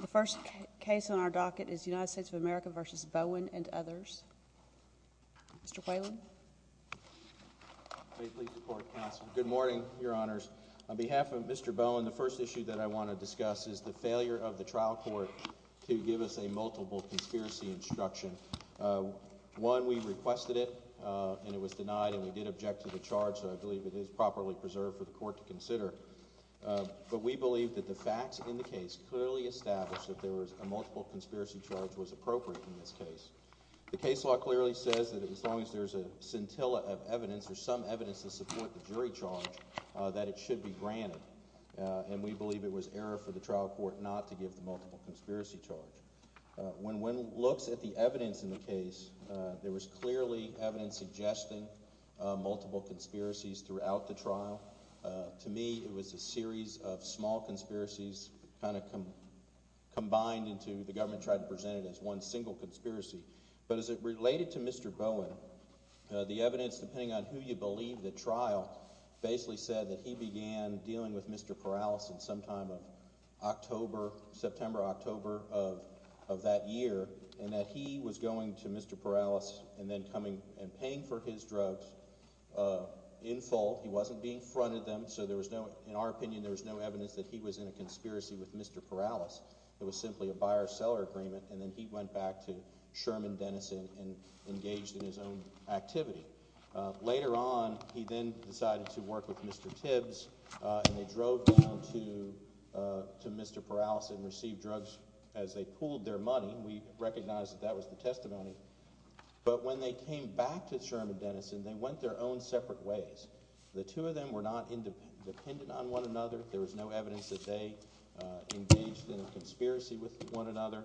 The first case on our docket is United States of America v. Bowen and others. Mr. Quaylen. Great to be with the court, counsel. Good morning, your honors. On behalf of Mr. Bowen, the first issue that I want to discuss is the failure of the trial court to give us a multiple conspiracy instruction. One, we requested it, and it was denied, and we did object to the charge, so I believe it is properly preserved for the court to consider. But we believe that the facts in the case clearly establish that a multiple conspiracy charge was appropriate in this case. The case law clearly says that as long as there's a scintilla of evidence or some evidence to support the jury charge, that it should be granted. And we believe it was error for the trial court not to give the multiple conspiracy charge. When one looks at the evidence in the case, there was clearly evidence suggesting multiple conspiracies throughout the trial. To me, it was a series of small conspiracies kind of combined into the government tried to present it as one single conspiracy. But as it related to Mr. Bowen, the evidence, depending on who you believe, the trial basically said that he began dealing with Mr. Perales at some time of September, October of that year. And that he was going to Mr. Perales and then coming and paying for his drugs in full. He wasn't being fronted them, so there was no – in our opinion, there was no evidence that he was in a conspiracy with Mr. Perales. It was simply a buyer-seller agreement, and then he went back to Sherman Dennison and engaged in his own activity. Later on, he then decided to work with Mr. Tibbs, and they drove down to Mr. Perales and received drugs as they pooled their money. We recognize that that was the testimony. But when they came back to Sherman Dennison, they went their own separate ways. The two of them were not dependent on one another. There was no evidence that they engaged in a conspiracy with one another.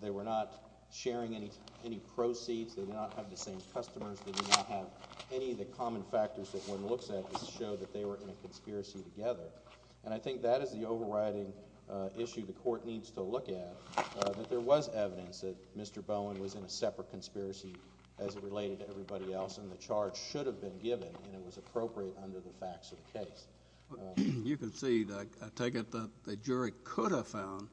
They were not sharing any proceeds. They did not have the same customers. They did not have any of the common factors that one looks at to show that they were in a conspiracy together. And I think that is the overriding issue the Court needs to look at, that there was evidence that Mr. Bowen was in a separate conspiracy as it related to everybody else, and the charge should have been given, and it was appropriate under the facts of the case. You concede – I take it that the jury could have found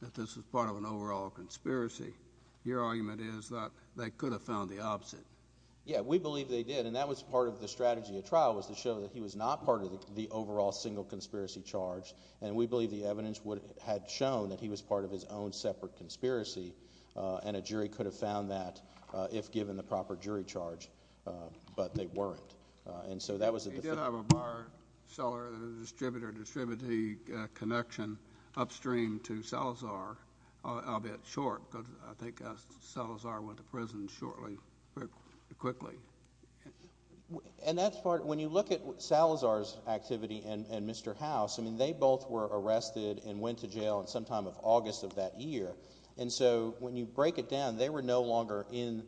that this was part of an overall conspiracy. Your argument is that they could have found the opposite. Yeah, we believe they did, and that was part of the strategy of trial was to show that he was not part of the overall single conspiracy charge, and we believe the evidence had shown that he was part of his own separate conspiracy, and a jury could have found that if given the proper jury charge, but they weren't. And so that was at the – He did have a buyer-seller-distributor-distributee connection upstream to Salazar, albeit short, because I think Salazar went to prison shortly, quickly. And that's part – when you look at Salazar's activity and Mr. House, I mean they both were arrested and went to jail sometime in August of that year. And so when you break it down, they were no longer in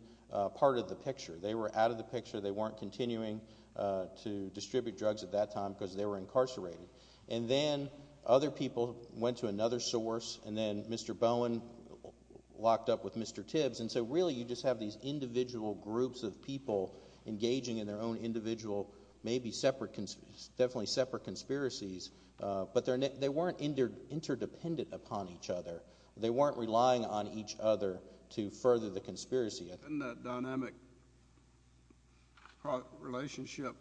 part of the picture. They were out of the picture. They weren't continuing to distribute drugs at that time because they were incarcerated. And then other people went to another source, and then Mr. Bowen locked up with Mr. Tibbs. And so really you just have these individual groups of people engaging in their own individual maybe separate – definitely separate conspiracies, but they weren't interdependent upon each other. They weren't relying on each other to further the conspiracy. Didn't that dynamic relationship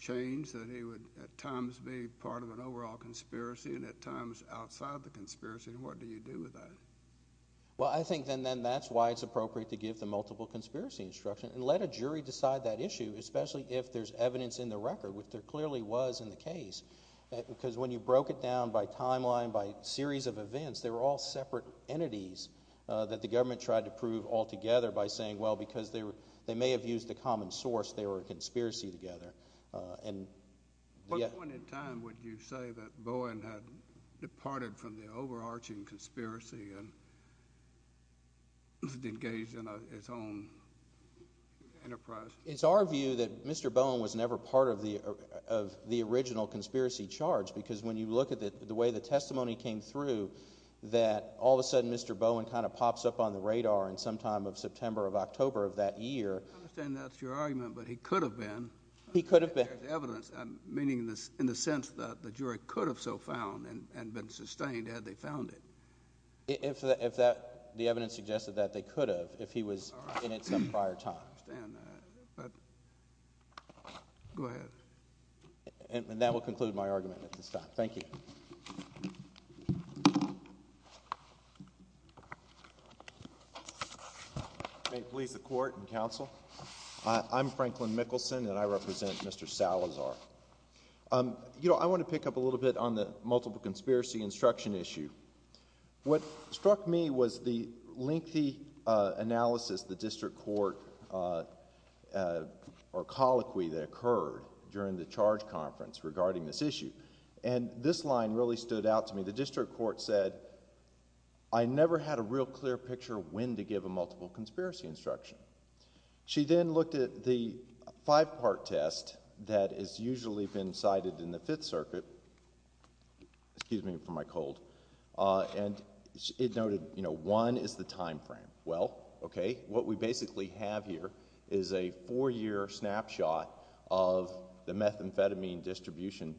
change that he would at times be part of an overall conspiracy and at times outside the conspiracy, and what do you do with that? Well, I think then that's why it's appropriate to give the multiple conspiracy instruction and let a jury decide that issue, especially if there's evidence in the record, which there clearly was in the case. Because when you broke it down by timeline, by series of events, they were all separate entities that the government tried to prove altogether by saying, well, because they may have used a common source, they were a conspiracy together. What point in time would you say that Bowen had departed from the overarching conspiracy and engaged in his own enterprise? It's our view that Mr. Bowen was never part of the original conspiracy charge because when you look at the way the testimony came through, that all of a sudden Mr. Bowen kind of pops up on the radar in sometime of September or October of that year. I understand that's your argument, but he could have been. He could have been. There's evidence, meaning in the sense that the jury could have so found and been sustained had they found it. If the evidence suggested that, they could have if he was in it some prior time. I understand that, but go ahead. And that will conclude my argument at this time. Thank you. May it please the Court and Counsel. I'm Franklin Mickelson, and I represent Mr. Salazar. I want to pick up a little bit on the multiple conspiracy instruction issue. What struck me was the lengthy analysis the district court or colloquy that occurred during the charge conference regarding this issue. And this line really stood out to me. The district court said, I never had a real clear picture of when to give a multiple conspiracy instruction. She then looked at the five-part test that is usually been cited in the Fifth Circuit. Excuse me for my cold. And it noted, you know, one is the time frame. Well, okay, what we basically have here is a four-year snapshot of the methamphetamine distribution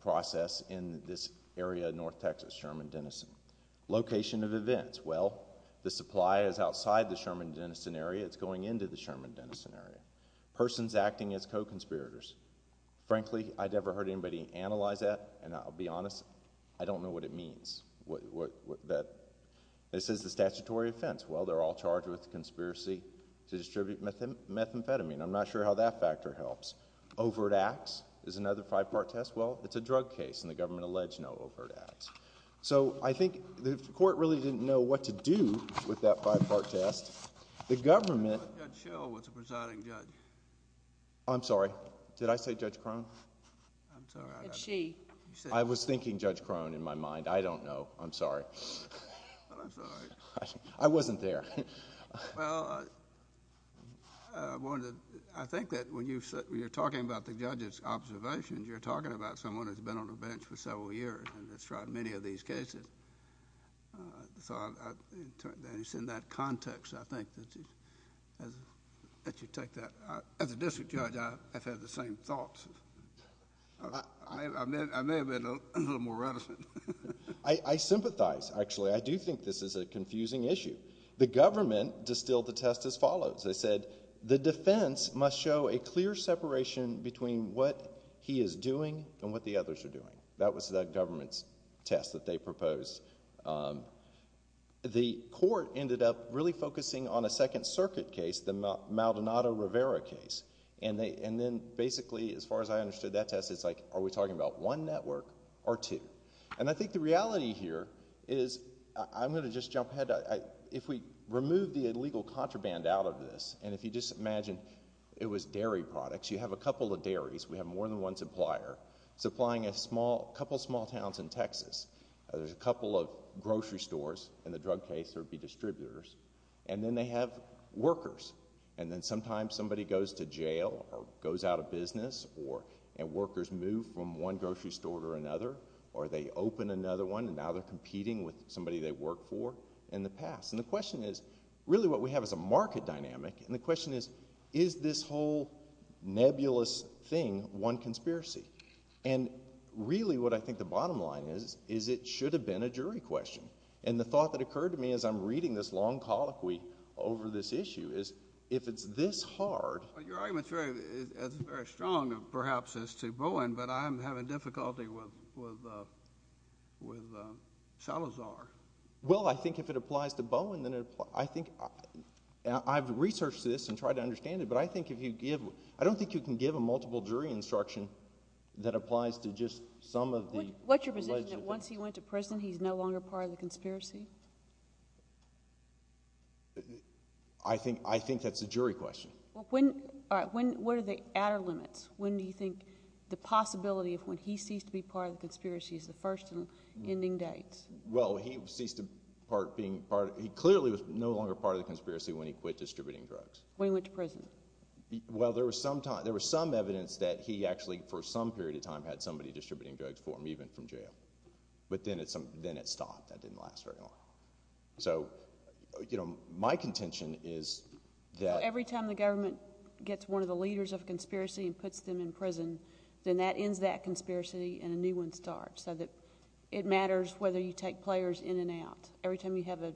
process in this area of North Texas, Sherman-Denison. Location of events. Well, the supply is outside the Sherman-Denison area. It's going into the Sherman-Denison area. Persons acting as co-conspirators. Frankly, I'd never heard anybody analyze that, and I'll be honest, I don't know what it means. This is the statutory offense. Well, they're all charged with conspiracy to distribute methamphetamine. I'm not sure how that factor helps. Overt acts is another five-part test. Well, it's a drug case, and the government alleged no overt acts. So I think the court really didn't know what to do with that five-part test. The government... Judge Schell was the presiding judge. I'm sorry. Did I say Judge Krohn? I'm sorry. It's she. I was thinking Judge Krohn in my mind. I don't know. I'm sorry. But I'm sorry. I wasn't there. Well, I think that when you're talking about the judge's observations, you're talking about someone who's been on the bench for several years and has tried many of these cases. So it's in that context, I think, that you take that. As a district judge, I've had the same thoughts. I may have been a little more reticent. I sympathize, actually. I do think this is a confusing issue. The government distilled the test as follows. They said the defense must show a clear separation between what he is doing and what the others are doing. That was the government's test that they proposed. The court ended up really focusing on a Second Circuit case, the Maldonado-Rivera case. And then, basically, as far as I understood that test, it's like, are we talking about one network or two? And I think the reality here is... I'm going to just jump ahead. If we remove the illegal contraband out of this, and if you just imagine it was dairy products. You have a couple of dairies. We have more than one supplier supplying a couple of small towns in Texas. There's a couple of grocery stores. In the drug case, there would be distributors. And then they have workers. And then sometimes somebody goes to jail or goes out of business, and workers move from one grocery store to another. Or they open another one, and now they're competing with somebody they worked for in the past. And the question is, really what we have is a market dynamic. And the question is, is this whole nebulous thing one conspiracy? And really what I think the bottom line is, is it should have been a jury question. And the thought that occurred to me as I'm reading this long colloquy over this issue is, if it's this hard... But your argument is very strong, perhaps, as to Bowen, but I'm having difficulty with Salazar. Well, I think if it applies to Bowen, then it applies... I think... I've researched this and tried to understand it, but I think if you give... I don't think you can give a multiple jury instruction that applies to just some of the alleged... What's your position, that once he went to prison, he's no longer part of the conspiracy? I think that's a jury question. All right. What are the outer limits? When do you think the possibility of when he ceased to be part of the conspiracy is the first and ending dates? Well, he ceased to be part... He clearly was no longer part of the conspiracy when he quit distributing drugs. When he went to prison? Well, there was some evidence that he actually, for some period of time, had somebody distributing drugs for him, even from jail. But then it stopped. That didn't last very long. So, you know, my contention is that... Every time the government gets one of the leaders of a conspiracy and puts them in prison, then that ends that conspiracy and a new one starts. So that it matters whether you take players in and out. Every time you have a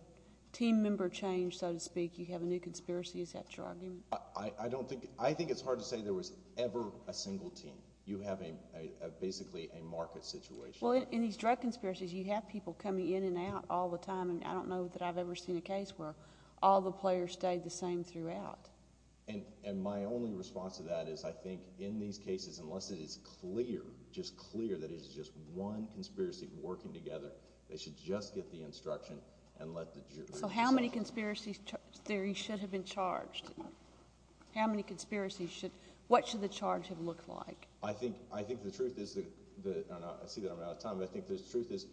team member change, so to speak, you have a new conspiracy, is that your argument? I don't think... I think it's hard to say there was ever a single team. You have basically a market situation. Well, in these drug conspiracies, you have people coming in and out all the time. And I don't know that I've ever seen a case where all the players stayed the same throughout. And my only response to that is I think in these cases, unless it is clear, just clear, that it is just one conspiracy working together, they should just get the instruction and let the jury decide. So how many conspiracies there should have been charged? How many conspiracies should... What should the charge have looked like? I think the truth is... I see that I'm out of time, but I think the truth is...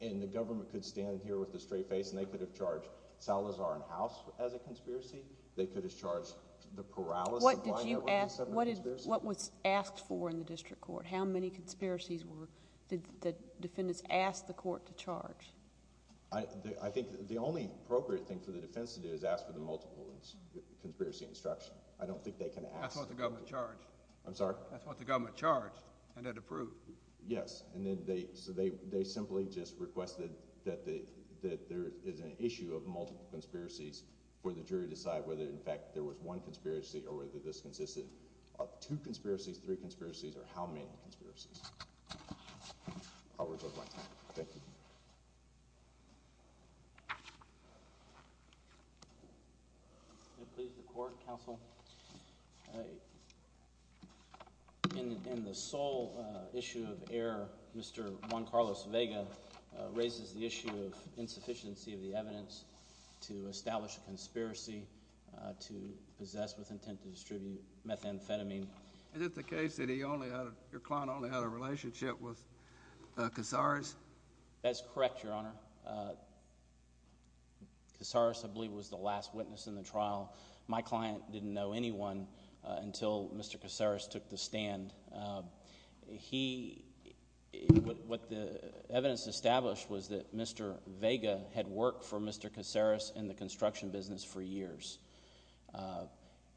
And the government could stand here with a straight face and they could have charged Salazar and House as a conspiracy. They could have charged the Perales... What did you ask? What was asked for in the district court? How many conspiracies did the defendants ask the court to charge? I think the only appropriate thing for the defense to do is ask for the multiple conspiracy instruction. I don't think they can ask... That's what the government charged. I'm sorry? That's what the government charged and it approved. Yes. And then they... So they simply just requested that there is an issue of multiple conspiracies for the jury to decide whether, in fact, there was one conspiracy or whether this consisted of two conspiracies, three conspiracies, or how many conspiracies. I'll return to my time. Thank you. May it please the Court, Counsel? In the sole issue of error, Mr. Juan Carlos Vega raises the issue of insufficiency of the evidence to establish a conspiracy to possess with intent to distribute methamphetamine. Is it the case that your client only had a relationship with Casares? That's correct, Your Honor. Casares, I believe, was the last witness in the trial. My client didn't know anyone until Mr. Casares took the stand. He... what the evidence established was that Mr. Vega had worked for Mr. Casares in the construction business for years.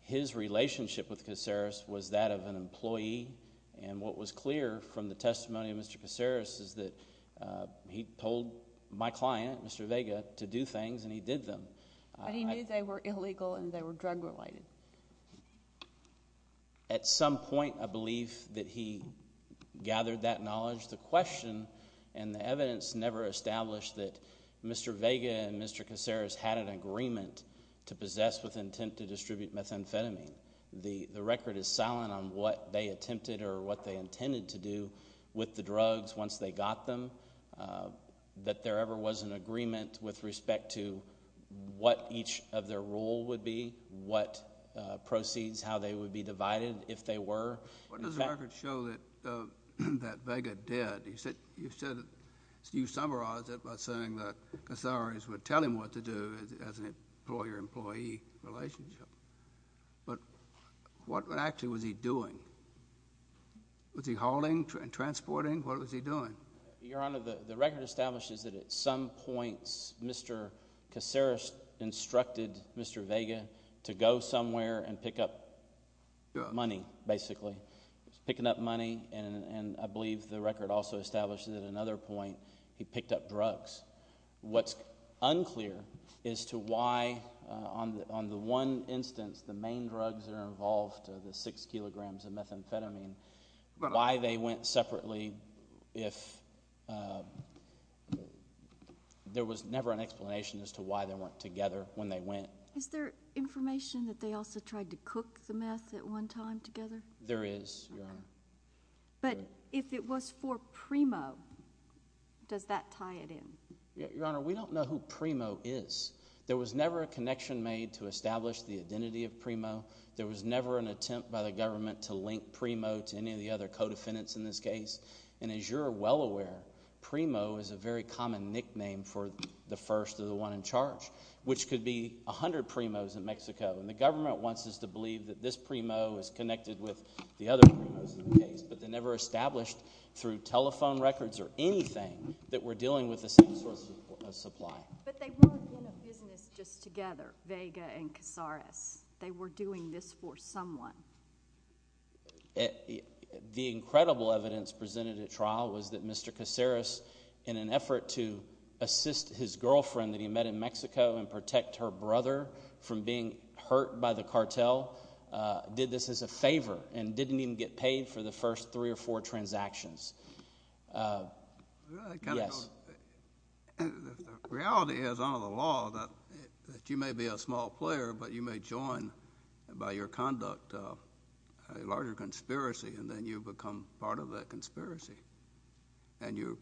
His relationship with Casares was that of an employee, and what was clear from the testimony of Mr. Casares is that he told my client, Mr. Vega, to do things, and he did them. But he knew they were illegal and they were drug-related. At some point, I believe that he gathered that knowledge. The question and the evidence never established that Mr. Vega and Mr. Casares had an agreement to possess with intent to distribute methamphetamine. The record is silent on what they attempted or what they intended to do with the drugs once they got them, that there ever was an agreement with respect to what each of their role would be, what proceeds, how they would be divided if they were. What does the record show that Vega did? You summarized it by saying that Casares would tell him what to do as an employer-employee relationship, but what actually was he doing? Was he hauling, transporting? What was he doing? Your Honor, the record establishes that at some points, Mr. Casares instructed Mr. Vega to go somewhere and pick up money, basically. He was picking up money, and I believe the record also establishes at another point he picked up drugs. What's unclear is to why on the one instance the main drugs that are involved, the six kilograms of methamphetamine, why they went separately if there was never an explanation as to why they weren't together when they went. Is there information that they also tried to cook the meth at one time together? There is, Your Honor. But if it was for Primo, does that tie it in? Your Honor, we don't know who Primo is. There was never a connection made to establish the identity of Primo. There was never an attempt by the government to link Primo to any of the other co-defendants in this case. And as you're well aware, Primo is a very common nickname for the first or the one in charge, which could be 100 Primos in Mexico. And the government wants us to believe that this Primo is connected with the other Primos in the case, but they never established through telephone records or anything that we're dealing with the same source of supply. But they weren't in a business just together, Vega and Casares. They were doing this for someone. The incredible evidence presented at trial was that Mr. Casares, in an effort to assist his girlfriend that he met in Mexico and protect her brother from being hurt by the cartel, did this as a favor and didn't even get paid for the first three or four transactions. Yes. The reality is under the law that you may be a small player, but you may join by your conduct a larger conspiracy, and then you become part of that conspiracy, and you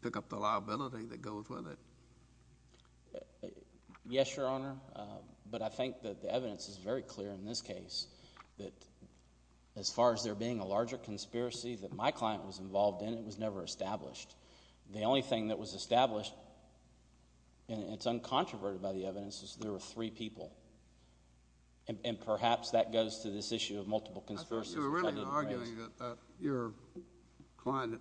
pick up the liability that goes with it. Yes, Your Honor. But I think that the evidence is very clear in this case that as far as there being a larger conspiracy that my client was involved in, it was never established. The only thing that was established, and it's uncontroverted by the evidence, is there were three people. And perhaps that goes to this issue of multiple conspiracies. You're really arguing that your client,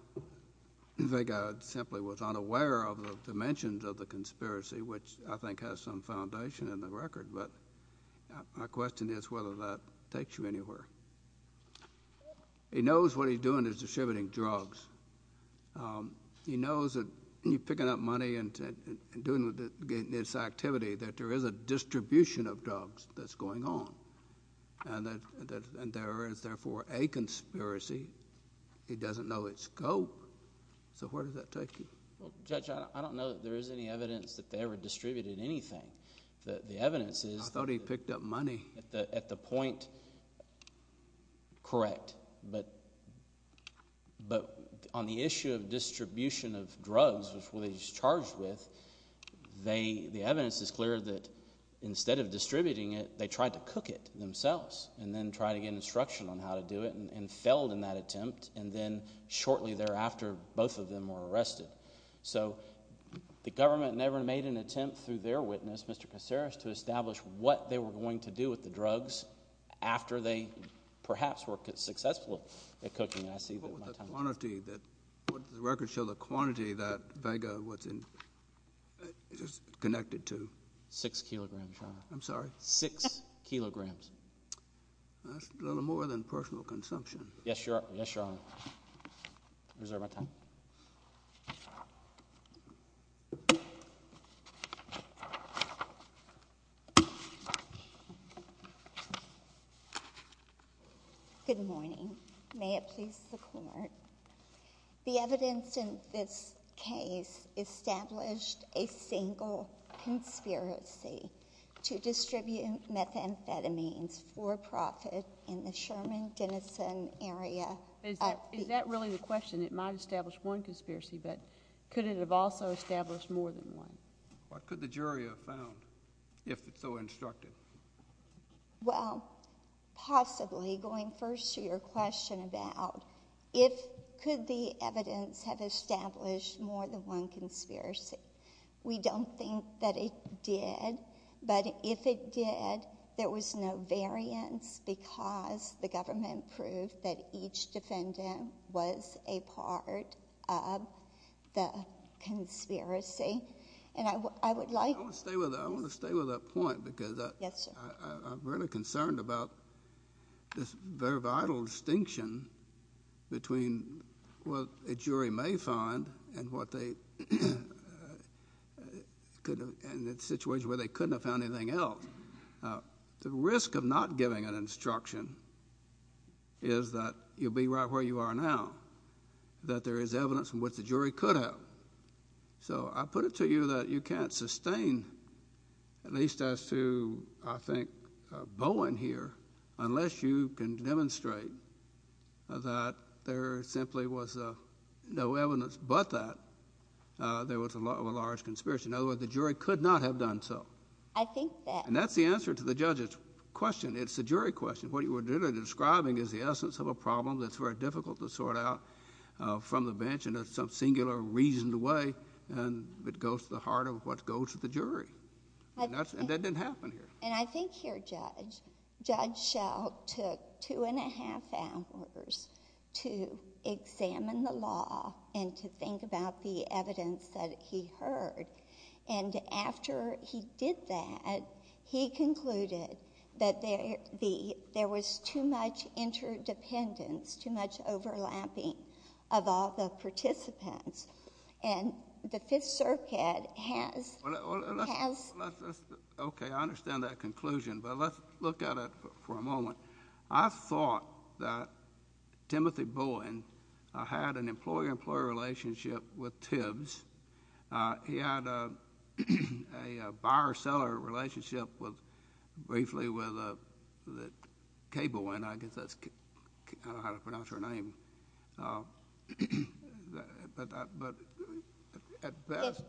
Vega, simply was unaware of the dimensions of the conspiracy, which I think has some foundation in the record. But my question is whether that takes you anywhere. He knows what he's doing is distributing drugs. He knows that you're picking up money and doing this activity, that there is a distribution of drugs that's going on. And there is therefore a conspiracy. He doesn't know its scope. So where does that take you? Well, Judge, I don't know that there is any evidence that they ever distributed anything. The evidence is... I thought he picked up money. At the point, correct. But on the issue of distribution of drugs, which they were charged with, the evidence is clear that instead of distributing it, they tried to cook it themselves. And then tried to get instruction on how to do it and failed in that attempt. And then shortly thereafter, both of them were arrested. So the government never made an attempt through their witness, Mr. Casares, to establish what they were going to do with the drugs after they perhaps were successful at cooking it. I see that my time is up. What would the quantity that... would the record show the quantity that Vega was connected to? Six kilograms, Your Honor. I'm sorry? Six kilograms. That's a little more than personal consumption. Yes, Your Honor. I reserve my time. Thank you. Good morning. May it please the Court. The evidence in this case established a single conspiracy to distribute methamphetamines for profit in the Sherman-Denison area. Is that really the question? It might establish one conspiracy, but could it have also established more than one? What could the jury have found if it's so instructive? Well, possibly going first to your question about if... could the evidence have established more than one conspiracy? We don't think that it did, but if it did, there was no variance because the government proved that each defendant was a part of the conspiracy, and I would like...... in a situation where they couldn't have found anything else. The risk of not giving an instruction is that you'll be right where you are now, that there is evidence from what the jury could have. So I put it to you that you can't sustain, at least as to, I think, Bowen here, unless you can demonstrate that there simply was no evidence but that. There was a large conspiracy. In other words, the jury could not have done so. I think that... And that's the answer to the judge's question. It's the jury question. What you were describing is the essence of a problem that's very difficult to sort out from the bench in some singular reasoned way, and it goes to the heart of what goes to the jury. And that didn't happen here. And I think here, Judge, Judge Schell took two and a half hours to examine the law and to think about the evidence that he heard. And after he did that, he concluded that there was too much interdependence, too much overlapping of all the participants, and the Fifth Circuit has... Okay. I understand that conclusion, but let's look at it for a moment. I thought that Timothy Bowen had an employer-employer relationship with TIBS. He had a buyer-seller relationship briefly with Kay Bowen. I guess that's... I don't know how to pronounce her name. But at best,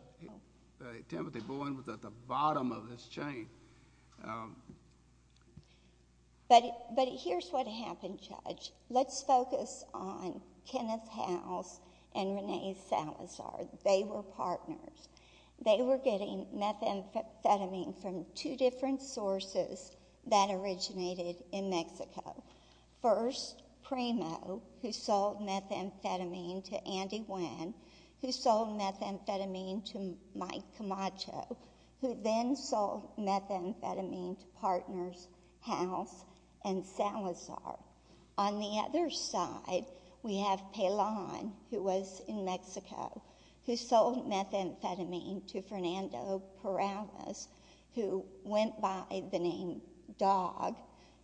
Timothy Bowen was at the bottom of his chain. But here's what happened, Judge. Let's focus on Kenneth Howells and Renee Salazar. They were partners. They were getting methamphetamine from two different sources that originated in Mexico. First, Primo, who sold methamphetamine to Andy Nguyen, who sold methamphetamine to Mike Camacho, who then sold methamphetamine to Partners House and Salazar. On the other side, we have Pelon, who was in Mexico, who sold methamphetamine to Fernando Perales, who went by the name Dog,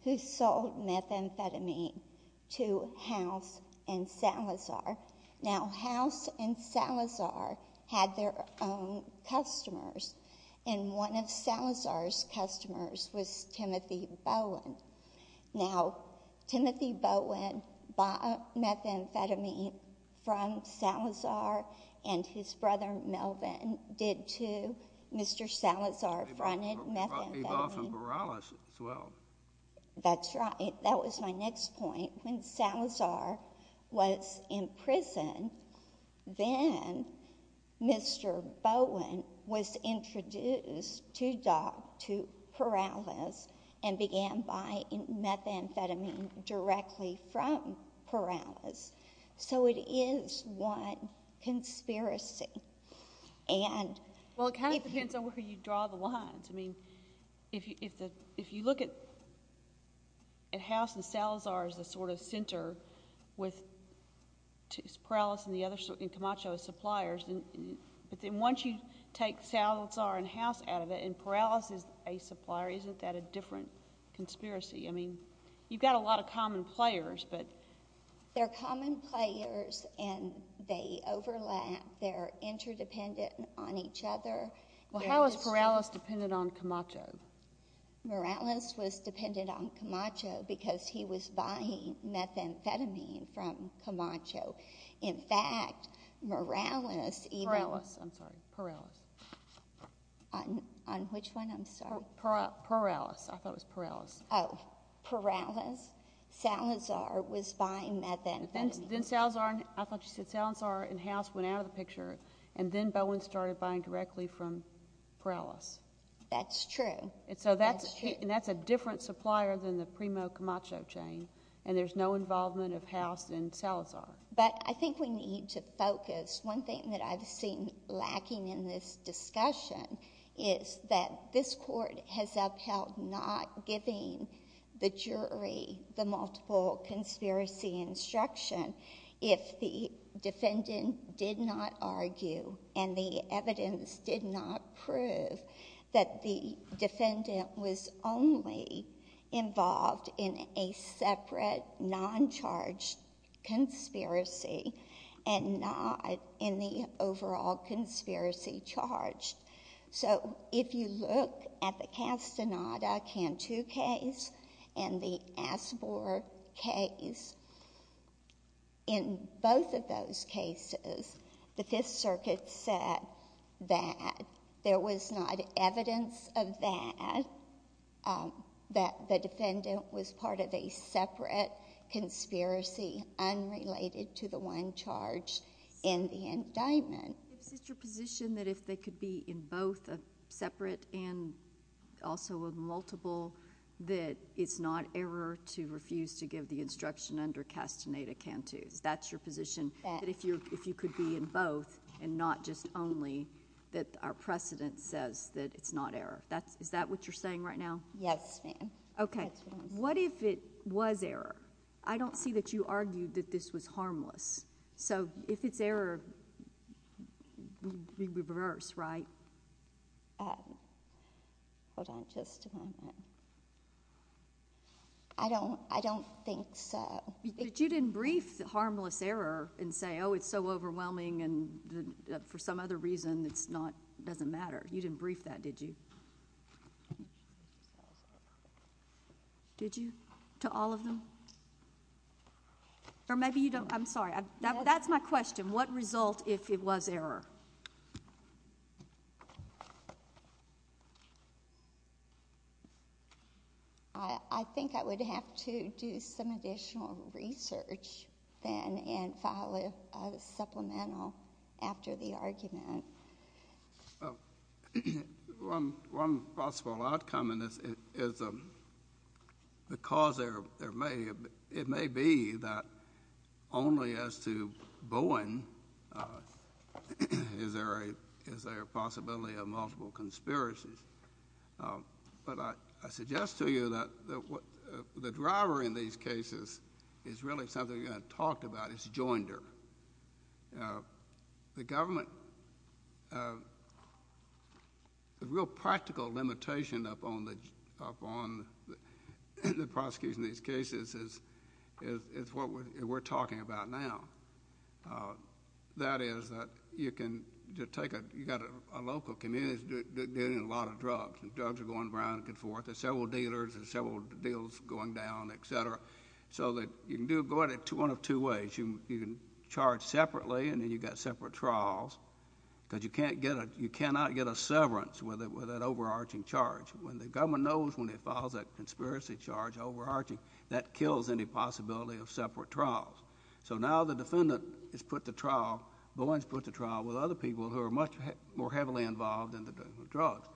who sold methamphetamine to House and Salazar. Now, House and Salazar had their own customers, and one of Salazar's customers was Timothy Bowen. Now, Timothy Bowen bought methamphetamine from Salazar, and his brother Melvin did, too. Mr. Salazar fronted methamphetamine. He bought from Perales, as well. That's right. That was my next point. When Salazar was in prison, then Mr. Bowen was introduced to Dog, to Perales, and began buying methamphetamine directly from Perales. So it is one conspiracy. Well, it kind of depends on where you draw the lines. I mean, if you look at House and Salazar as a sort of center, with Perales and Camacho as suppliers, but then once you take Salazar and House out of it, and Perales is a supplier, isn't that a different conspiracy? I mean, you've got a lot of common players. They're common players, and they overlap. They're interdependent on each other. Well, how is Perales dependent on Camacho? Perales was dependent on Camacho because he was buying methamphetamine from Camacho. In fact, Perales, I'm sorry, Perales. On which one, I'm sorry? Perales. I thought it was Perales. Oh, Perales. Salazar was buying methamphetamine. Then Salazar, I thought you said Salazar and House went out of the picture, and then Bowen started buying directly from Perales. That's true. And so that's a different supplier than the primo-Camacho chain, and there's no involvement of House and Salazar. But I think we need to focus. One thing that I've seen lacking in this discussion is that this court has upheld not giving the jury the multiple conspiracy instruction if the defendant did not argue and the evidence did not prove that the defendant was only involved in a separate non-charged conspiracy and not in the overall conspiracy charged. So if you look at the Castaneda-Cantu case and the Asbor case, in both of those cases, the Fifth Circuit said that there was not evidence of that, that the defendant was part of a separate conspiracy unrelated to the one charged in the indictment. Is it your position that if they could be in both a separate and also a multiple, that it's not error to refuse to give the instruction under Castaneda-Cantu? That's your position, that if you could be in both and not just only, that our precedent says that it's not error? Is that what you're saying right now? Yes, ma'am. Okay. What if it was error? I don't see that you argued that this was harmless. So if it's error, we reverse, right? Hold on just a moment. I don't think so. But you didn't brief the harmless error and say, oh, it's so overwhelming and for some other reason it doesn't matter. You didn't brief that, did you? Did you? To all of them? Or maybe you don't. I'm sorry. That's my question. What result if it was error? I think I would have to do some additional research then and file a supplemental after the argument. One possible outcome in this is because it may be that only as to Bowen is there a possibility of multiple conspiracies. But I suggest to you that the driver in these cases is really something you haven't talked about. It's joinder. The government, the real practical limitation upon the prosecution of these cases is what we're talking about now. That is that you can take a, you've got a local community that's dealing in a lot of drugs. The drugs are going around and forth. There's several dealers. You can go at it one of two ways. You can charge separately and then you've got separate trials because you cannot get a severance with that overarching charge. When the government knows when it files that conspiracy charge overarching, that kills any possibility of separate trials. So now the defendant is put to trial. Bowen's put to trial with other people who are much more heavily involved in the dealing with drugs.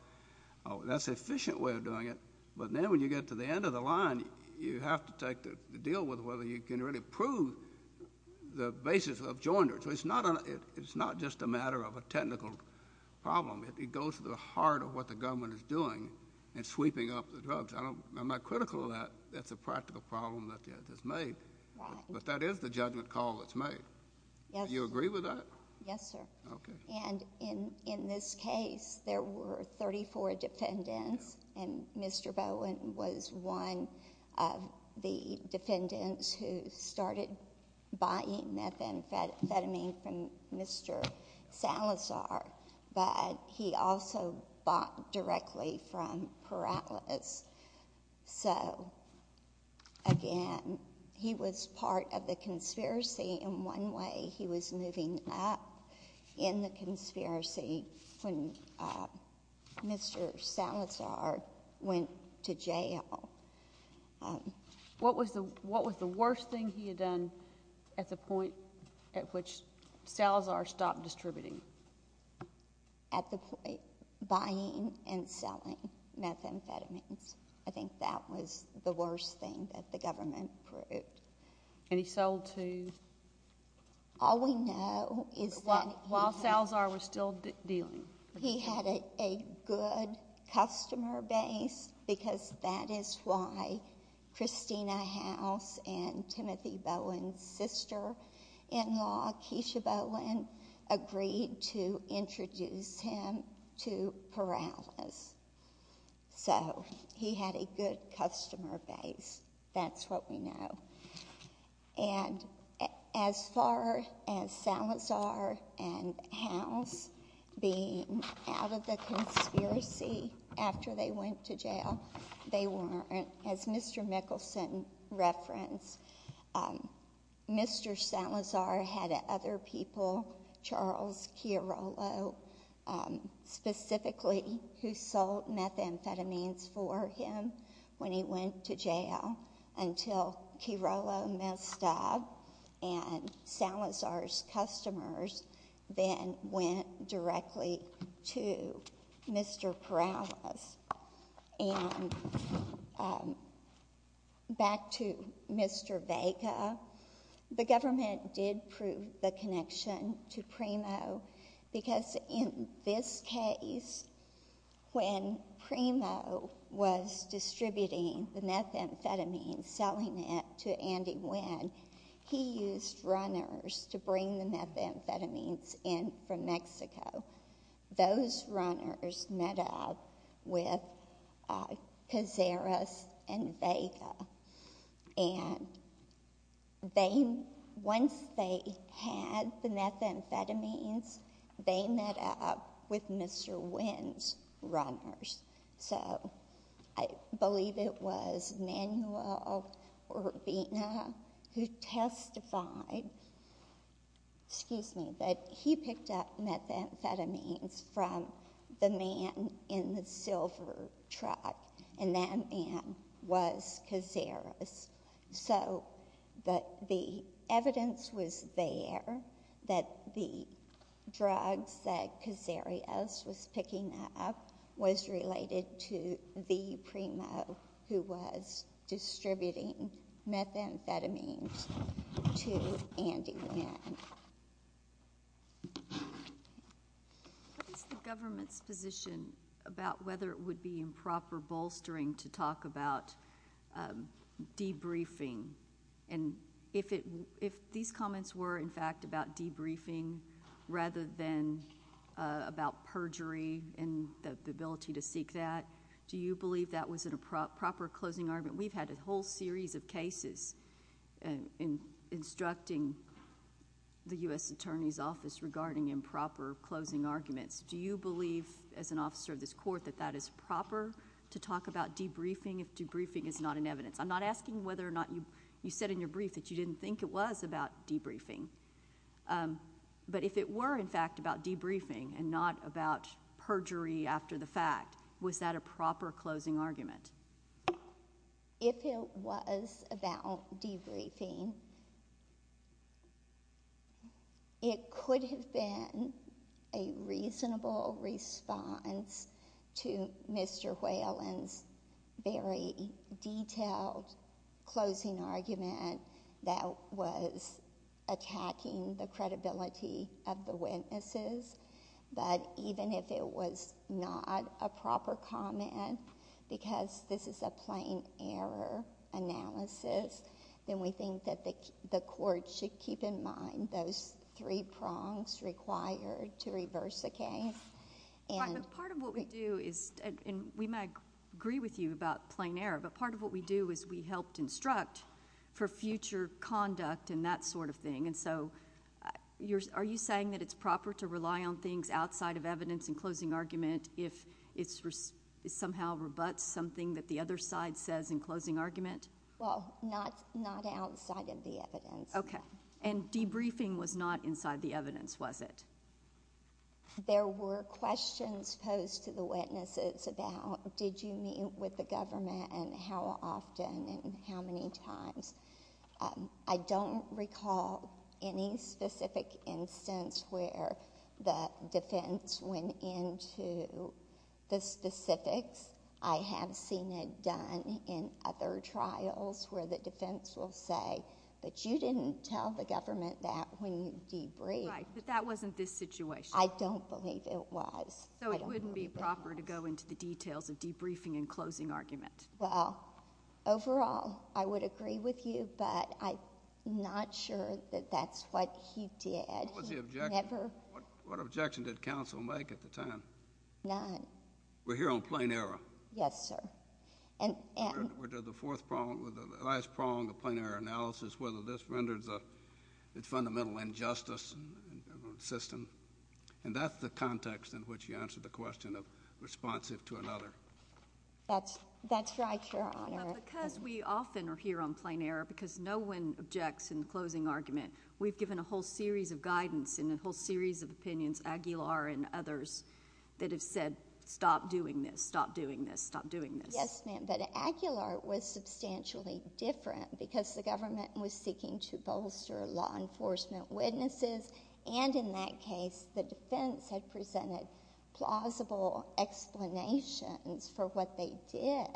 That's an efficient way of doing it. But then when you get to the end of the line, you have to take the deal with whether you can really prove the basis of joinder. So it's not just a matter of a technical problem. It goes to the heart of what the government is doing in sweeping up the drugs. I'm not critical of that. That's a practical problem that is made. But that is the judgment call that's made. Do you agree with that? Yes, sir. Okay. And in this case, there were 34 defendants, and Mr. Bowen was one of the defendants who started buying methamphetamine from Mr. Salazar. But he also bought directly from Perales. So, again, he was part of the conspiracy in one way. He was living up in the conspiracy when Mr. Salazar went to jail. What was the worst thing he had done at the point at which Salazar stopped distributing? At the point? Buying and selling methamphetamines. I think that was the worst thing that the government proved. And he sold to? All we know is that— While Salazar was still dealing. He had a good customer base because that is why Christina House and Timothy Bowen's sister-in-law, Keisha Bowen, agreed to introduce him to Perales. So, he had a good customer base. That's what we know. And as far as Salazar and House being out of the conspiracy after they went to jail, they weren't. As Mr. Mickelson referenced, Mr. Salazar had other people, Charles Chiarolo specifically, who sold methamphetamines for him when he went to jail until Chiarolo messed up. And Salazar's customers then went directly to Mr. Perales. And back to Mr. Vega, the government did prove the connection to Primo. Because in this case, when Primo was distributing the methamphetamines, selling it to Andy Nguyen, he used runners to bring the methamphetamines in from Mexico. Those runners met up with Cazares and Vega. And once they had the methamphetamines, they met up with Mr. Nguyen's runners. So, I believe it was Manuel Urbina who testified, excuse me, that he picked up methamphetamines from the man in the silver truck. And that man was Cazares. So, the evidence was there that the drugs that Cazares was picking up was related to the Primo who was distributing methamphetamines to Andy Nguyen. What is the government's position about whether it would be improper bolstering to talk about debriefing? And if these comments were, in fact, about debriefing rather than about perjury and the ability to seek that, do you believe that was a proper closing argument? We've had a whole series of cases instructing the U.S. Attorney's Office regarding improper closing arguments. Do you believe, as an officer of this Court, that that is proper to talk about debriefing if debriefing is not an evidence? I'm not asking whether or not you said in your brief that you didn't think it was about debriefing. But if it were, in fact, about debriefing and not about perjury after the fact, was that a proper closing argument? If it was about debriefing, it could have been a reasonable response to Mr. Whalen's very detailed closing argument that was attacking the credibility of the witnesses. But even if it was not a proper comment because this is a plain error analysis, then we think that the Court should keep in mind those three prongs required to reverse the case. But part of what we do is, and we might agree with you about plain error, but part of what we do is we help instruct for future conduct and that sort of thing. And so are you saying that it's proper to rely on things outside of evidence in closing argument if it somehow rebuts something that the other side says in closing argument? Well, not outside of the evidence. Okay. And debriefing was not inside the evidence, was it? There were questions posed to the witnesses about did you meet with the government and how often and how many times. I don't recall any specific instance where the defense went into the specifics. I have seen it done in other trials where the defense will say, but you didn't tell the government that when you debriefed. Right, but that wasn't this situation. I don't believe it was. So it wouldn't be proper to go into the details of debriefing in closing argument. Well, overall, I would agree with you, but I'm not sure that that's what he did. What was the objection? Never. What objection did counsel make at the time? None. We're here on plain error. Yes, sir. The fourth prong, the last prong of plain error analysis, whether this renders a fundamental injustice system. And that's the context in which you answered the question of responsive to another. That's right, Your Honor. Because we often are here on plain error because no one objects in closing argument, we've given a whole series of guidance and a whole series of opinions, Aguilar and others, that have said stop doing this, stop doing this, stop doing this. Yes, ma'am. But Aguilar was substantially different because the government was seeking to bolster law enforcement witnesses. And in that case, the defense had presented plausible explanations for what they did.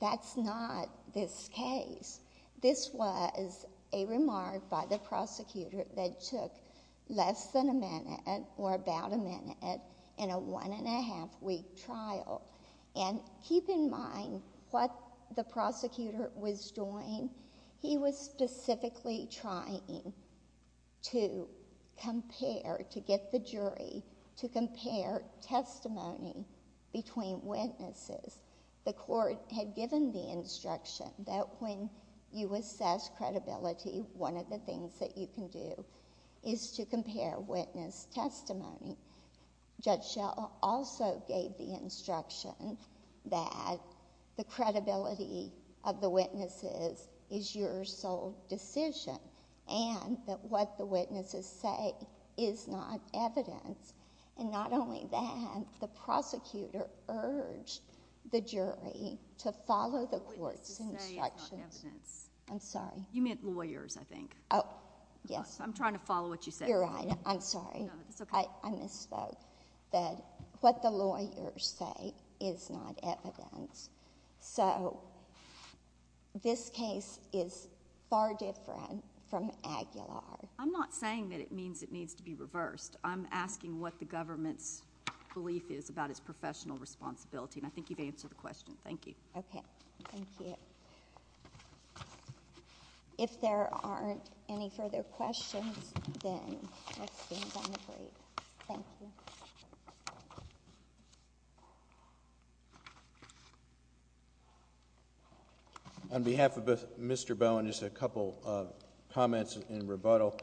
That's not this case. This was a remark by the prosecutor that took less than a minute or about a minute in a one-and-a-half-week trial. And keep in mind what the prosecutor was doing. He was specifically trying to compare, to get the jury to compare testimony between witnesses. The court had given the instruction that when you assess credibility, one of the things that you can do is to compare witness testimony. Judge Shell also gave the instruction that the credibility of the witnesses is your sole decision and that what the witnesses say is not evidence. And not only that, the prosecutor urged the jury to follow the court's instructions. Witnesses say it's not evidence. I'm sorry. You meant lawyers, I think. Oh, yes. I'm trying to follow what you said. You're right. I'm sorry. It's okay. I misspoke. That what the lawyers say is not evidence. So this case is far different from Aguilar. I'm not saying that it means it needs to be reversed. I'm asking what the government's belief is about its professional responsibility. And I think you've answered the question. Thank you. Okay. Thank you. If there aren't any further questions, then that's been done. Thank you. On behalf of Mr. Bowen, just a couple of comments in rebuttal.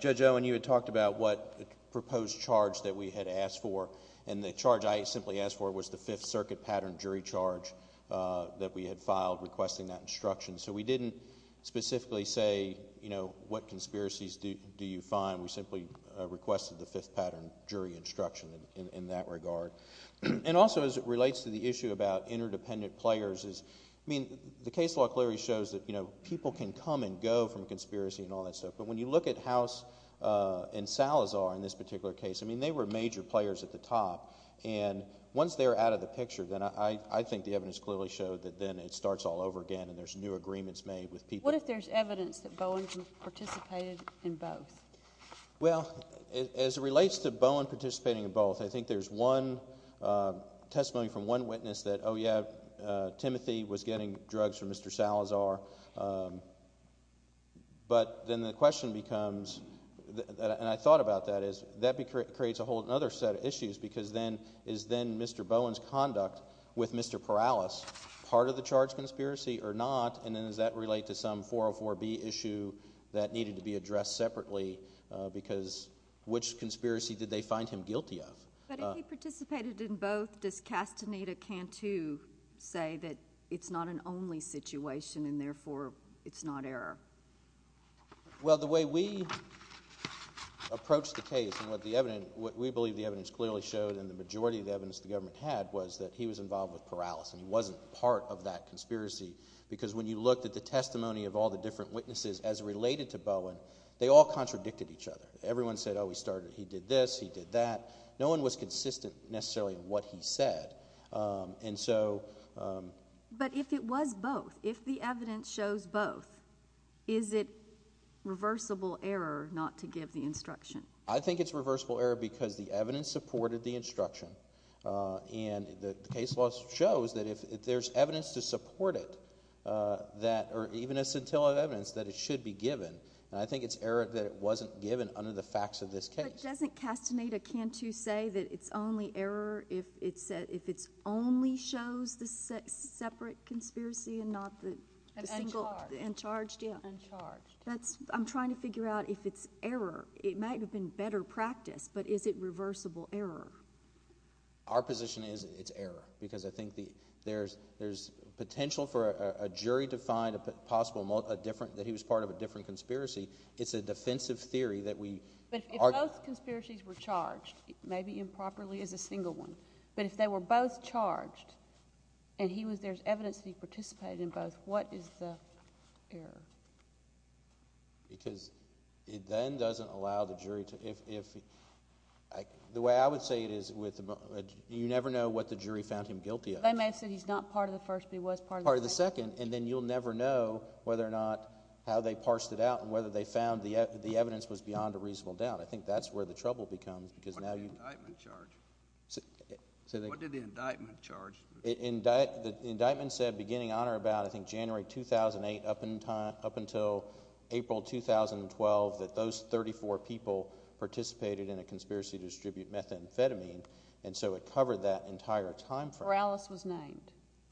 Judge Owen, you had talked about what proposed charge that we had asked for. And the charge I simply asked for was the Fifth Circuit pattern jury charge that we had filed requesting that instruction. So we didn't specifically say, you know, what conspiracies do you find? We simply requested the Fifth Pattern jury instruction in that regard. And also, as it relates to the issue about interdependent players, the case law clearly shows that people can come and go from a conspiracy and all that stuff. But when you look at House and Salazar in this particular case, I mean, they were major players at the top. And once they're out of the picture, then I think the evidence clearly showed that then it starts all over again and there's new agreements made with people. What if there's evidence that Bowen participated in both? Well, as it relates to Bowen participating in both, I think there's one testimony from one witness that, oh, yeah, Timothy was getting drugs from Mr. Salazar. But then the question becomes, and I thought about that, is that creates a whole other set of issues because then is then Mr. Bowen's conduct with Mr. Perales part of the charge conspiracy or not? And then does that relate to some 404B issue that needed to be addressed separately because which conspiracy did they find him guilty of? But if he participated in both, does Castaneda-Cantu say that it's not an only situation and therefore it's not error? Well, the way we approached the case and what we believe the evidence clearly showed and the majority of the evidence the government had was that he was involved with Perales and he wasn't part of that conspiracy because when you looked at the testimony of all the different witnesses as related to Bowen, they all contradicted each other. Everyone said, oh, he did this, he did that. No one was consistent necessarily in what he said. But if it was both, if the evidence shows both, is it reversible error not to give the instruction? I think it's reversible error because the evidence supported the instruction and the case law shows that if there's evidence to support it or even a scintilla of evidence that it should be given, I think it's error that it wasn't given under the facts of this case. But doesn't Castaneda-Cantu say that it's only error if it only shows the separate conspiracy and not the single? Uncharged. Uncharged, yeah. Uncharged. I'm trying to figure out if it's error. It might have been better practice, but is it reversible error? Our position is it's error because I think there's potential for a jury to find a possible different, It's a defensive theory that we argue. But if both conspiracies were charged, maybe improperly as a single one, but if they were both charged and there's evidence that he participated in both, what is the error? Because it then doesn't allow the jury to, the way I would say it is you never know what the jury found him guilty of. They may have said he's not part of the first, but he was part of the second. Part of the second, and then you'll never know whether or not how they parsed it out and whether they found the evidence was beyond a reasonable doubt. I think that's where the trouble becomes because now you What did the indictment charge? What did the indictment charge? The indictment said beginning on or about I think January 2008 up until April 2012 that those 34 people participated in a conspiracy to distribute methamphetamine and so it covered that entire time frame. Perales was named.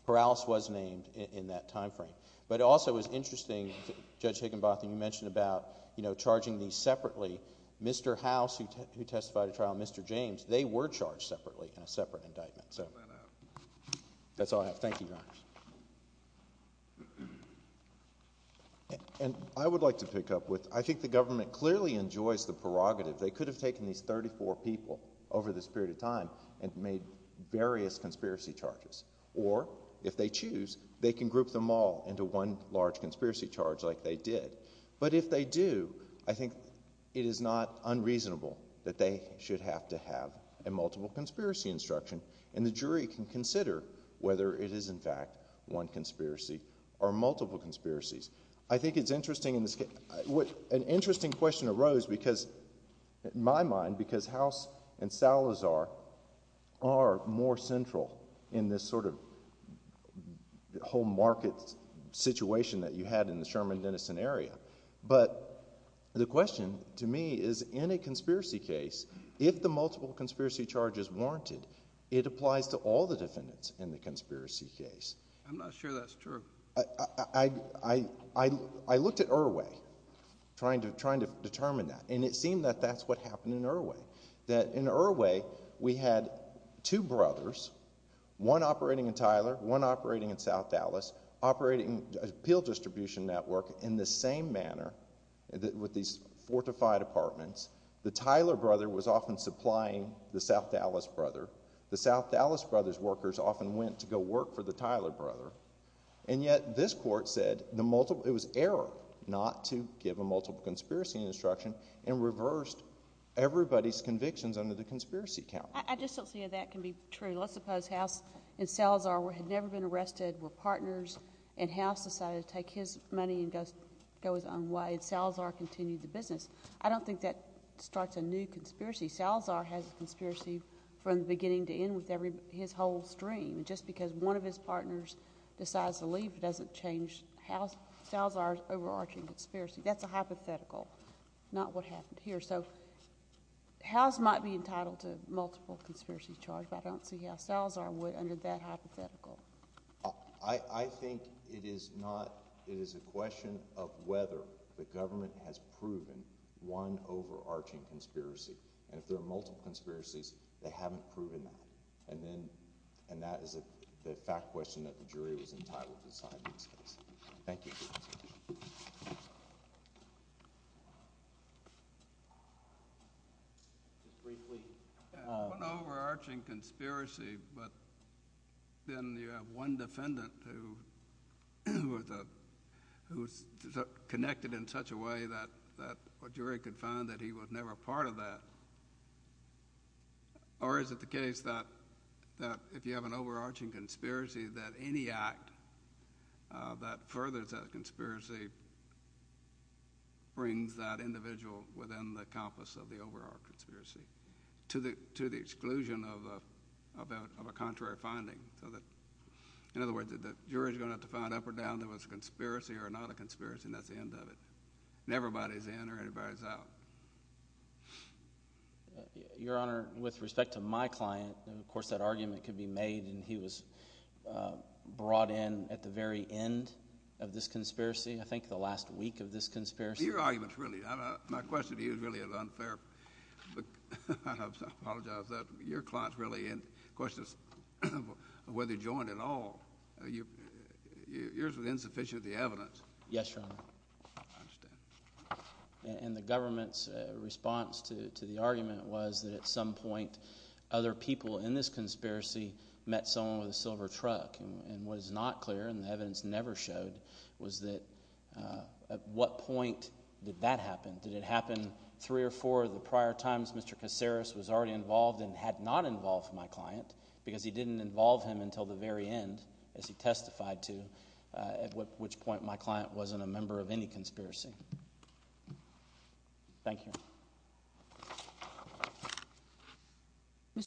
Perales was named in that time frame. But it also was interesting, Judge Higginbotham, you mentioned about charging these separately. Mr. House, who testified at trial, and Mr. James, they were charged separately in a separate indictment. That's all I have. Thank you, Your Honors. And I would like to pick up with, I think the government clearly enjoys the prerogative. They could have taken these 34 people over this period of time and made various conspiracy charges. Or, if they choose, they can group them all into one large conspiracy charge like they did. But if they do, I think it is not unreasonable that they should have to have a multiple conspiracy instruction. And the jury can consider whether it is in fact one conspiracy or multiple conspiracies. I think it's interesting, an interesting question arose because in my mind, because House and Salazar are more central in this sort of home market situation that you had in the Sherman-Denison area. But the question to me is, in a conspiracy case, if the multiple conspiracy charge is warranted, it applies to all the defendants in the conspiracy case. I'm not sure that's true. I looked at Irwi, trying to determine that. And it seemed that that's what happened in Irwi. That in Irwi, we had two brothers, one operating in Tyler, one operating in South Dallas, operating an appeal distribution network in the same manner, with these fortified apartments. The Tyler brother was often supplying the South Dallas brother. The South Dallas brother's workers often went to go work for the Tyler brother. And yet, this court said it was error not to give a multiple conspiracy instruction and reversed everybody's convictions under the conspiracy count. I just don't see how that can be true. Let's suppose House and Salazar had never been arrested, were partners, and House decided to take his money and go his own way, and Salazar continued the business. I don't think that starts a new conspiracy. Salazar has a conspiracy from beginning to end with his whole stream. Just because one of his partners decides to leave doesn't change Salazar's overarching conspiracy. That's a hypothetical, not what happened here. So House might be entitled to multiple conspiracy charges, but I don't see how Salazar would under that hypothetical. I think it is a question of whether the government has proven one overarching conspiracy. And if there are multiple conspiracies, they haven't proven that. And that is the fact question that the jury was entitled to decide in this case. Thank you. Briefly. One overarching conspiracy, but then you have one defendant who's connected in such a way that a jury could find that he was never part of that. Or is it the case that if you have an overarching conspiracy that any act that furthers that conspiracy brings that individual within the compass of the overarching conspiracy to the exclusion of a contrary finding? In other words, the jury's going to have to find up or down if it was a conspiracy or not a conspiracy, and that's the end of it. And everybody's in or everybody's out. Your Honor, with respect to my client, of course that argument could be made and he was brought in at the very end of this conspiracy. I think the last week of this conspiracy. Your argument's really, my question to you is really unfair. I apologize for that. Your client's really in. The question is whether he joined at all. Yours was insufficient of the evidence. Yes, Your Honor. I understand. And the government's response to the argument was that at some point other people in this conspiracy met someone with a silver truck. And what is not clear, and the evidence never showed, was that at what point did that happen? Did it happen three or four of the prior times Mr. Kaceres was already involved and had not involved my client because he didn't involve him until the very end as he testified to, at which point my client wasn't a member of any conspiracy. Thank you.